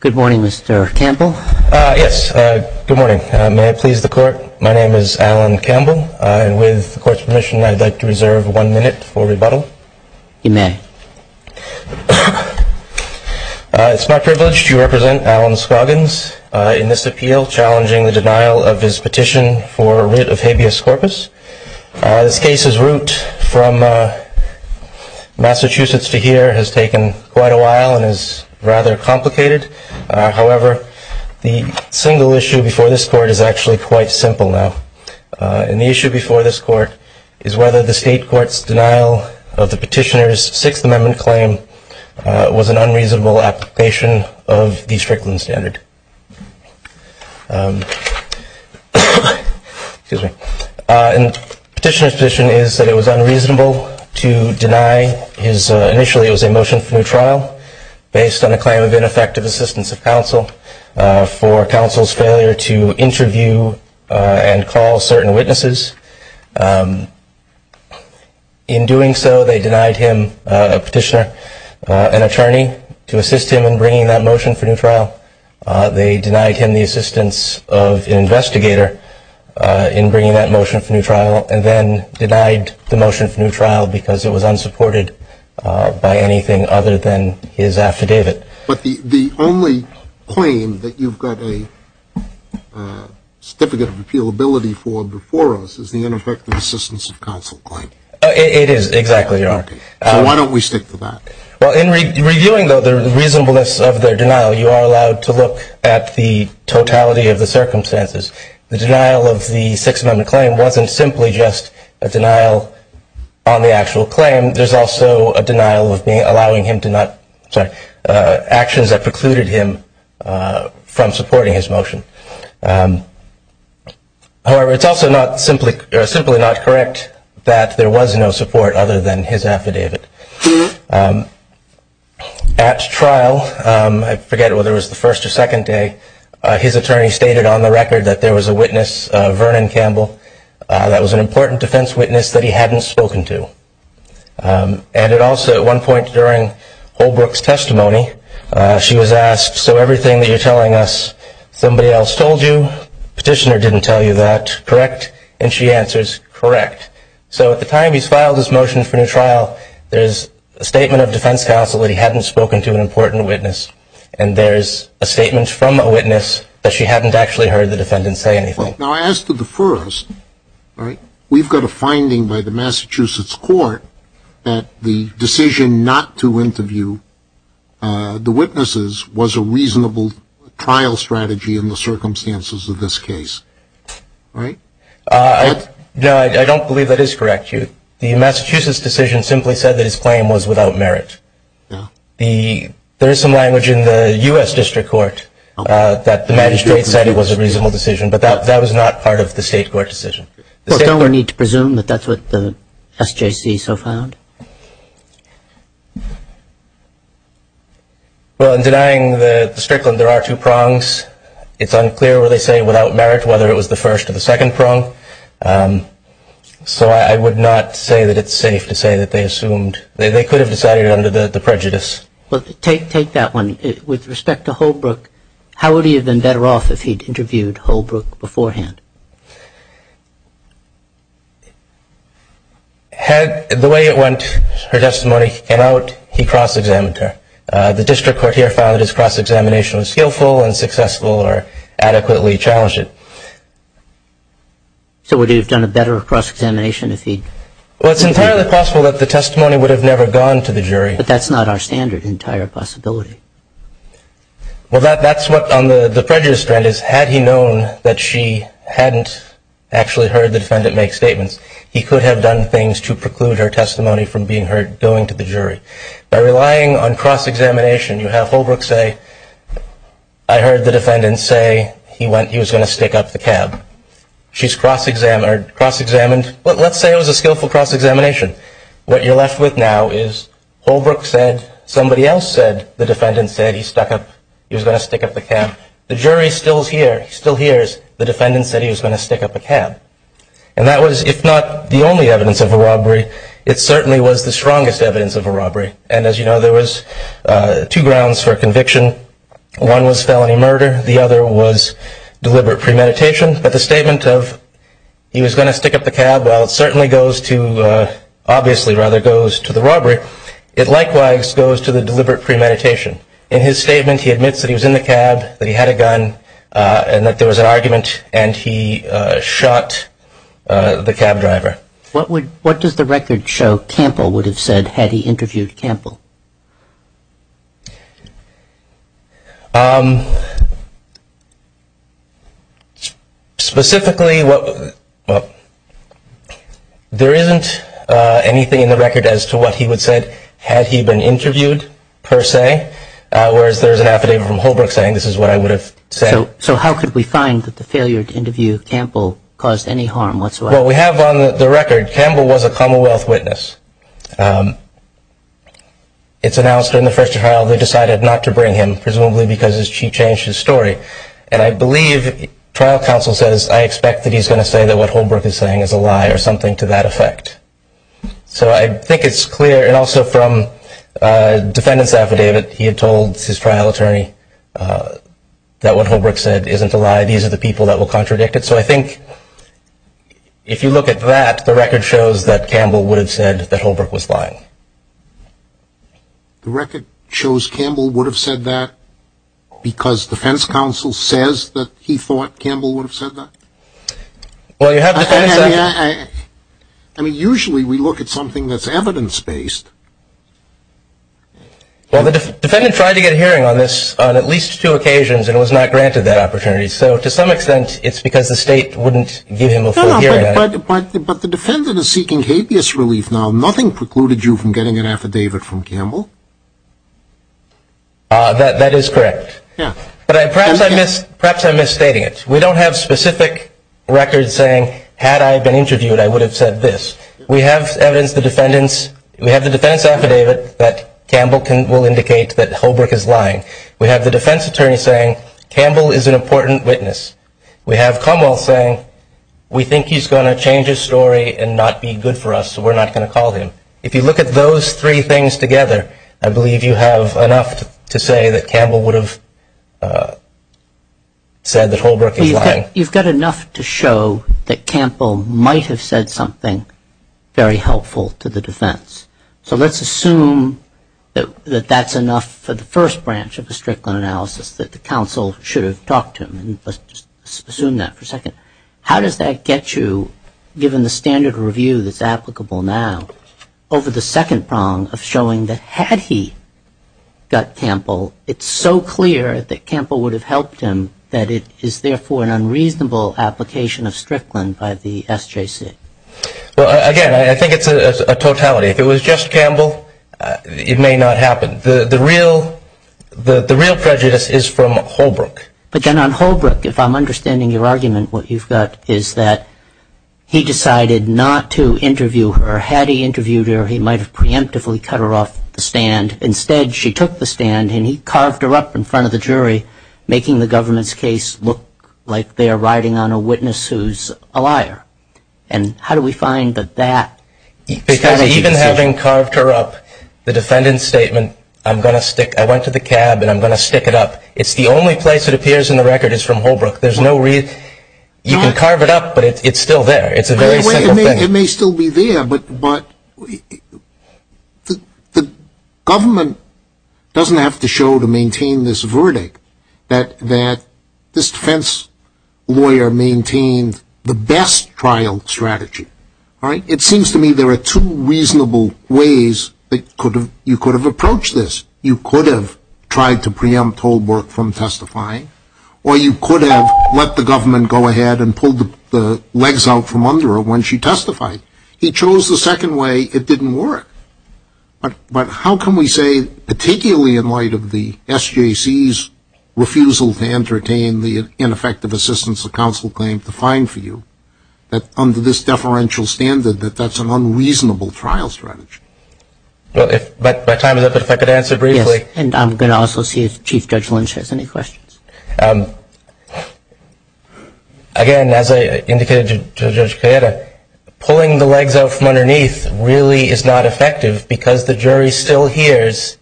Good morning, Mr. Campbell. Yes, good morning. May I please the court? My name is Alan Campbell. And with the court's permission, I'd like to reserve one minute for rebuttal. You may. It's my privilege to represent Alan Scoggins in this appeal challenging the denial of his petition for writ of habeas corpus. This case's route from Massachusetts to here has taken quite a while and is rather complicated. However, the single issue before this court is actually quite simple now. And the issue before this court is whether the state court's denial of the petitioner's Sixth Amendment claim was an unreasonable application of the Strickland Standard. Petitioner's position is that it was unreasonable to deny his, initially it was a motion for new trial, based on a claim of ineffective assistance of counsel for counsel's failure to interview and call certain witnesses. In doing so, they denied him, a petitioner, an attorney to assist him in bringing that motion for new trial. They denied him the assistance of an investigator in bringing that motion for new trial and then denied the motion for new trial because it was unsupported by anything other than his affidavit. But the only claim that you've got a certificate of appealability for before us is the ineffective assistance of counsel claim. It is, exactly. So why don't we stick to that? Well, in reviewing the reasonableness of their denial, you are allowed to look at the totality of the circumstances. The denial of the Sixth Amendment claim wasn't simply just a denial on the actual claim. There's also a denial of allowing him to not, sorry, actions that precluded him from supporting his motion. However, it's also simply not correct that there was no support other than his affidavit. At trial, I forget whether it was the first or second day, his attorney stated on the record that there was a witness, Vernon Campbell, that was an important defense witness that he hadn't spoken to. And it also, at one point during Holbrook's testimony, she was asked, so everything that you're telling us somebody else told you, petitioner didn't tell you that, correct? And she answers, correct. So at the time he's filed his motion for new trial, there's a statement of defense counsel that he hadn't spoken to an important witness, and there's a statement from a witness that she hadn't actually heard the defendant say anything. Now, as to the first, we've got a finding by the Massachusetts court that the decision not to interview the witnesses was a reasonable trial strategy in the circumstances of this case, right? No, I don't believe that is correct. The Massachusetts decision simply said that his claim was without merit. There is some language in the U.S. district court that the magistrate said it was a reasonable decision, but that was not part of the state court decision. Well, don't we need to presume that that's what the SJC so found? Well, in denying the Strickland, there are two prongs. It's unclear whether they say without merit, whether it was the first or the second prong. So I would not say that it's safe to say that they assumed they could have decided it under the prejudice. Well, take that one. With respect to Holbrook, how would he have been better off if he'd interviewed Holbrook beforehand? The way it went, her testimony came out, he cross-examined her. The district court here found that his cross-examination was skillful and successful or adequately challenged it. So would he have done a better cross-examination if he'd interviewed her? Well, it's entirely possible that the testimony would have never gone to the jury. But that's not our standard, entire possibility. Well, that's what on the prejudice strand is, had he known that she hadn't actually heard the defendant make statements, he could have done things to preclude her testimony from being heard going to the jury. By relying on cross-examination, you have Holbrook say, I heard the defendant say he was going to stick up the cab. She's cross-examined. Let's say it was a skillful cross-examination. What you're left with now is Holbrook said, somebody else said the defendant said he was going to stick up the cab. The jury still hears the defendant said he was going to stick up the cab. And that was, if not the only evidence of a robbery, it certainly was the strongest evidence of a robbery. And as you know, there was two grounds for conviction. One was felony murder. The other was deliberate premeditation. But the statement of he was going to stick up the cab, while it certainly goes to, obviously rather goes to the robbery, it likewise goes to the deliberate premeditation. In his statement, he admits that he was in the cab, that he had a gun, and that there was an argument, and he shot the cab driver. What does the record show Campbell would have said had he interviewed Campbell? Specifically, there isn't anything in the record as to what he would have said had he been interviewed, per se, whereas there's an affidavit from Holbrook saying this is what I would have said. So how could we find that the failure to interview Campbell caused any harm whatsoever? Well, we have on the record, Campbell was a Commonwealth witness. It's announced during the first trial they decided not to bring him, presumably because she changed his story. And I believe trial counsel says, I expect that he's going to say that what Holbrook is saying is a lie or something to that effect. So I think it's clear. And also from defendant's affidavit, he had told his trial attorney that what Holbrook said isn't a lie. These are the people that will contradict it. And so I think if you look at that, the record shows that Campbell would have said that Holbrook was lying. The record shows Campbell would have said that because defense counsel says that he thought Campbell would have said that? Well, you have defense counsel. I mean, usually we look at something that's evidence-based. Well, the defendant tried to get a hearing on this on at least two occasions, and it was not granted that opportunity. So to some extent, it's because the state wouldn't give him a full hearing on it. But the defendant is seeking habeas relief now. Nothing precluded you from getting an affidavit from Campbell? That is correct. But perhaps I'm misstating it. We don't have specific records saying, had I been interviewed, I would have said this. We have evidence, we have the defendant's affidavit that Campbell will indicate that Holbrook is lying. We have the defense attorney saying Campbell is an important witness. We have Commonwealth saying we think he's going to change his story and not be good for us, so we're not going to call him. If you look at those three things together, I believe you have enough to say that Campbell would have said that Holbrook is lying. You've got enough to show that Campbell might have said something very helpful to the defense. So let's assume that that's enough for the first branch of the Strickland analysis, that the counsel should have talked to him. Let's just assume that for a second. How does that get you, given the standard review that's applicable now, over the second prong of showing that had he got Campbell, it's so clear that Campbell would have helped him that it is therefore an unreasonable application of Strickland by the SJC? Well, again, I think it's a totality. If it was just Campbell, it may not happen. The real prejudice is from Holbrook. But then on Holbrook, if I'm understanding your argument, what you've got is that he decided not to interview her. Had he interviewed her, he might have preemptively cut her off the stand. Instead, she took the stand and he carved her up in front of the jury, making the government's case look like they're riding on a witness who's a liar. And how do we find that that is the case? Because even having carved her up, the defendant's statement, I'm going to stick, I went to the cab and I'm going to stick it up, it's the only place it appears in the record is from Holbrook. There's no reason. You can carve it up, but it's still there. It's a very simple thing. It may still be there, but the government doesn't have to show to maintain this verdict that this defense lawyer maintained the best trial strategy. It seems to me there are two reasonable ways that you could have approached this. You could have tried to preempt Holbrook from testifying, or you could have let the government go ahead and pulled the legs out from under her when she testified. He chose the second way. It didn't work. But how can we say, particularly in light of the SJC's refusal to entertain the ineffective assistance of counsel claim to fine for you, that under this deferential standard that that's an unreasonable trial strategy? If I could answer briefly. And I'm going to also see if Chief Judge Lynch has any questions. Again, as I indicated to Judge Kayeda, pulling the legs out from underneath really is not effective because the jury still hears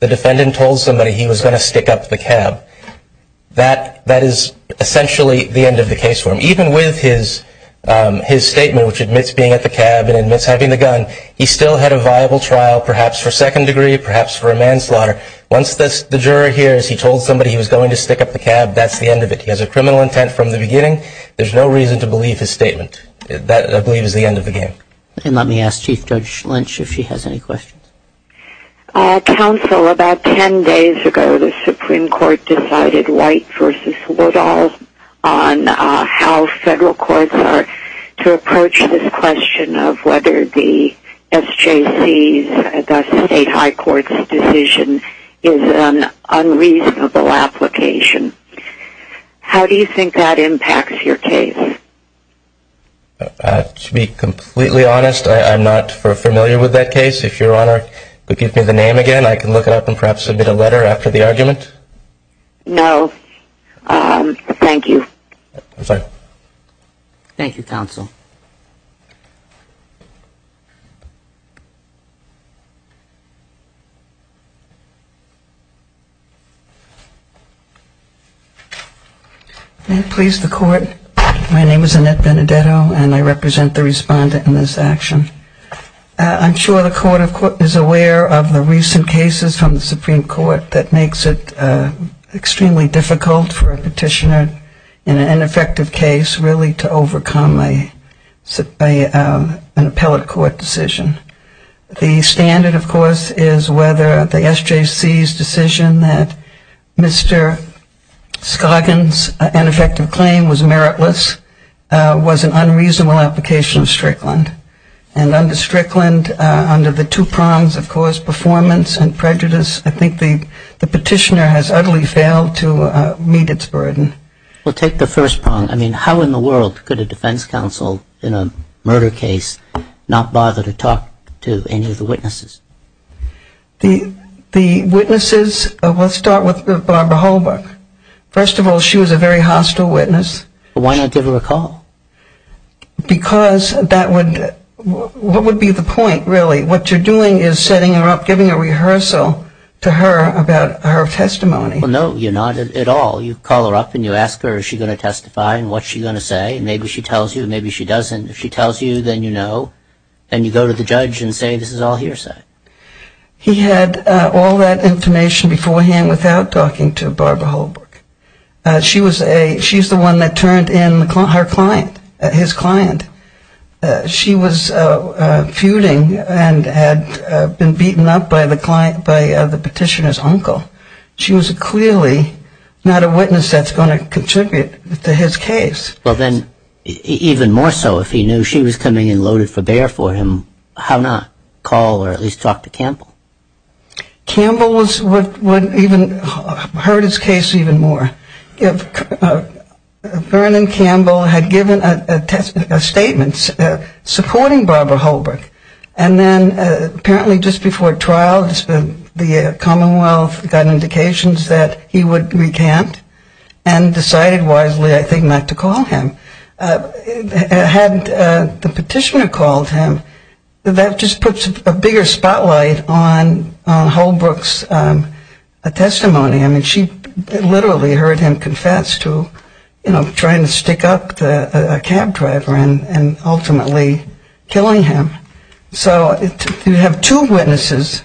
the defendant told somebody he was going to stick up the cab. That is essentially the end of the case for him. Even with his statement, which admits being at the cab and admits having the gun, he still had a viable trial, perhaps for second degree, perhaps for a manslaughter. Once the juror hears he told somebody he was going to stick up the cab, that's the end of it. He has a criminal intent from the beginning. There's no reason to believe his statement. That, I believe, is the end of the game. And let me ask Chief Judge Lynch if she has any questions. Counsel, about ten days ago, the Supreme Court decided, White v. Woodall, on how federal courts are to approach this question of whether the SJC, the state high court's decision, is an unreasonable application. How do you think that impacts your case? To be completely honest, I'm not familiar with that case. If Your Honor could give me the name again, I can look it up and perhaps submit a letter after the argument. No. Thank you. I'm sorry. Thank you, Counsel. May it please the Court, my name is Annette Benedetto, and I represent the respondent in this action. I'm sure the Court is aware of the recent cases from the Supreme Court that makes it extremely difficult for a petitioner in an ineffective case really to overcome an appellate court decision. The standard, of course, is whether the SJC's decision that Mr. Scoggin's ineffective claim was meritless was an unreasonable application of Strickland. And under Strickland, under the two prongs, of course, performance and prejudice, I think the petitioner has utterly failed to meet its burden. Well, take the first prong. I mean, how in the world could a defense counsel in a murder case not bother to talk to any of the witnesses? The witnesses, let's start with Barbara Holbrook. First of all, she was a very hostile witness. Why not give her a call? Because that would, what would be the point, really? What you're doing is setting her up, giving a rehearsal to her about her testimony. Well, no, you're not at all. You call her up and you ask her, is she going to testify and what's she going to say? Maybe she tells you, maybe she doesn't. If she tells you, then you know. And you go to the judge and say, this is all hearsay. He had all that information beforehand without talking to Barbara Holbrook. She's the one that turned in her client, his client. She was feuding and had been beaten up by the petitioner's uncle. She was clearly not a witness that's going to contribute to his case. Well, then, even more so, if he knew she was coming in loaded for bear for him, how not call or at least talk to Campbell? Campbell was what even hurt his case even more. Vernon Campbell had given a statement supporting Barbara Holbrook, and then apparently just before trial the Commonwealth got indications that he would recant and decided wisely, I think, not to call him. Had the petitioner called him, that just puts a bigger spotlight on Holbrook's testimony. I mean, she literally heard him confess to, you know, trying to stick up a cab driver and ultimately killing him. So you have two witnesses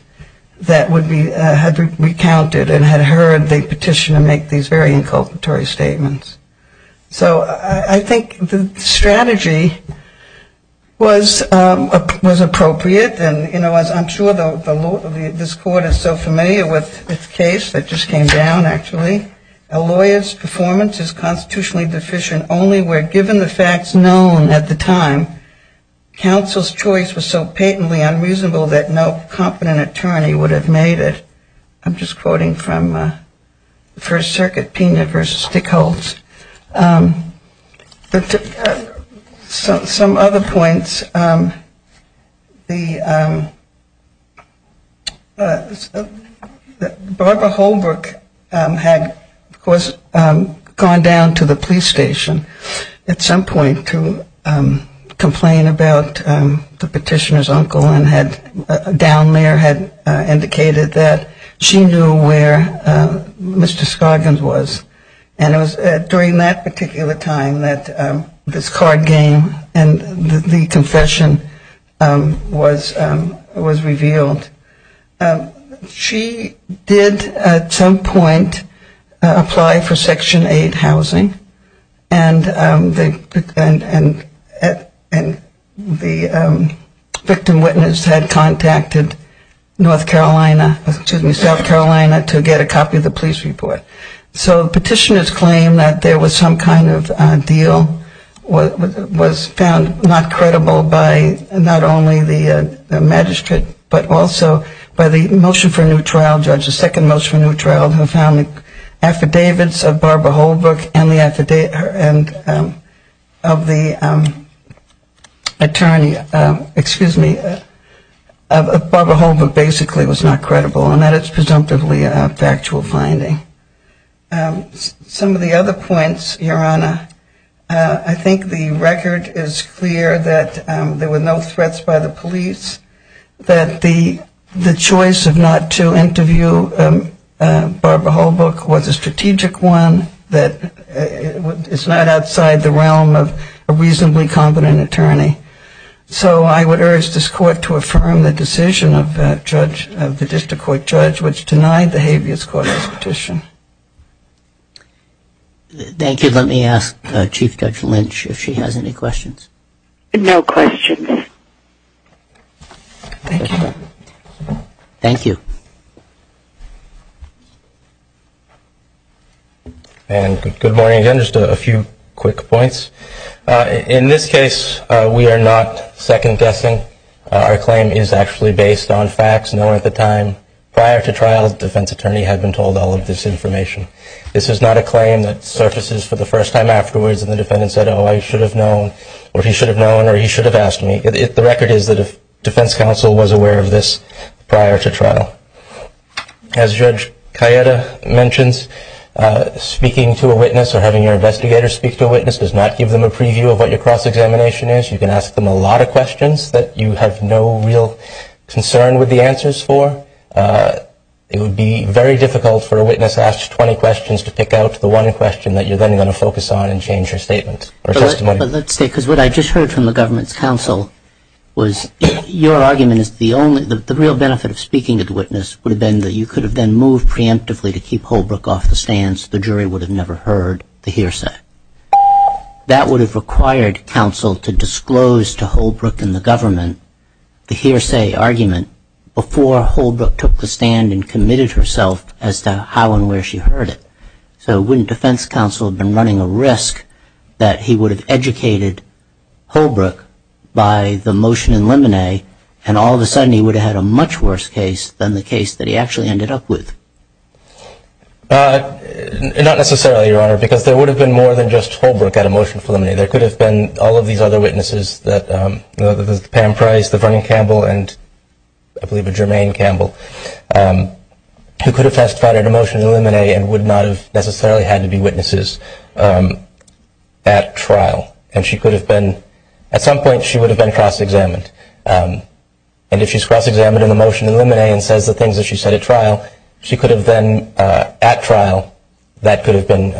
that would be, had recounted and had heard the petitioner make these very inculpatory statements. So I think the strategy was appropriate. And, you know, as I'm sure this Court is so familiar with this case that just came down, actually, a lawyer's performance is constitutionally deficient only where given the facts known at the time, counsel's choice was so patently unreasonable that no competent attorney would have made it. I'm just quoting from the First Circuit, Pena v. Stickholz. Some other points. Barbara Holbrook had, of course, gone down to the police station at some point to complain about the petitioner's uncle and down there had indicated that she knew where Mr. Scoggins was. And it was during that particular time that this card game and the confession was revealed. She did at some point apply for Section 8 housing. And the victim witness had contacted North Carolina, excuse me, South Carolina to get a copy of the police report. So the petitioner's claim that there was some kind of deal was found not credible by not only the magistrate, but also by the motion for a new trial, Judge's second motion for a new trial, who found the affidavits of Barbara Holbrook and of the attorney, excuse me, of Barbara Holbrook basically was not credible. And that is presumptively a factual finding. Some of the other points, Your Honor, I think the record is clear that there were no threats by the police, that the choice of not to interview Barbara Holbrook was a strategic one, that it's not outside the realm of a reasonably competent attorney. So I would urge this court to affirm the decision of the district court judge, which denied the habeas corpus petition. Thank you. Let me ask Chief Judge Lynch if she has any questions. Thank you. And good morning again. Just a few quick points. In this case, we are not second-guessing. Our claim is actually based on facts known at the time. Prior to trial, the defense attorney had been told all of this information. This is not a claim that surfaces for the first time afterwards and the defendant said, oh, I should have known, or he should have known, or he should have asked me. The record is that a defense counsel was aware of this prior to trial. As Judge Cayetta mentions, speaking to a witness or having your investigator speak to a witness does not give them a preview of what your cross-examination is. You can ask them a lot of questions that you have no real concern with the answers for. It would be very difficult for a witness to ask 20 questions to pick out the one question that you're then going to focus on and change your statement or testimony. But let's say, because what I just heard from the government's counsel was your argument is the only, the real benefit of speaking to the witness would have been that you could have then moved preemptively to keep Holbrook off the stand so the jury would have never heard the hearsay. That would have required counsel to disclose to Holbrook and the government the hearsay argument before Holbrook took the stand and committed herself as to how and where she heard it. So wouldn't defense counsel have been running a risk that he would have educated Holbrook by the motion in limine, and all of a sudden he would have had a much worse case than the case that he actually ended up with? Not necessarily, Your Honor, because there would have been more than just Holbrook at a motion for limine. There could have been all of these other witnesses, the Pam Price, the Vernon Campbell, and I believe a Jermaine Campbell, who could have testified at a motion in limine and would not have necessarily had to be witnesses at trial. And she could have been, at some point she would have been cross-examined. And if she's cross-examined in the motion in limine and says the things that she said at trial, she could have then, at trial, that could have been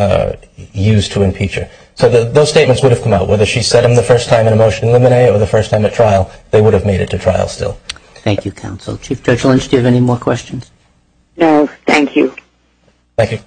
used to impeach her. So those statements would have come out, whether she said them the first time in a motion in limine or the first time at trial, they would have made it to trial still. Thank you, counsel. Chief Judge Lynch, do you have any more questions? No, thank you. Thank you.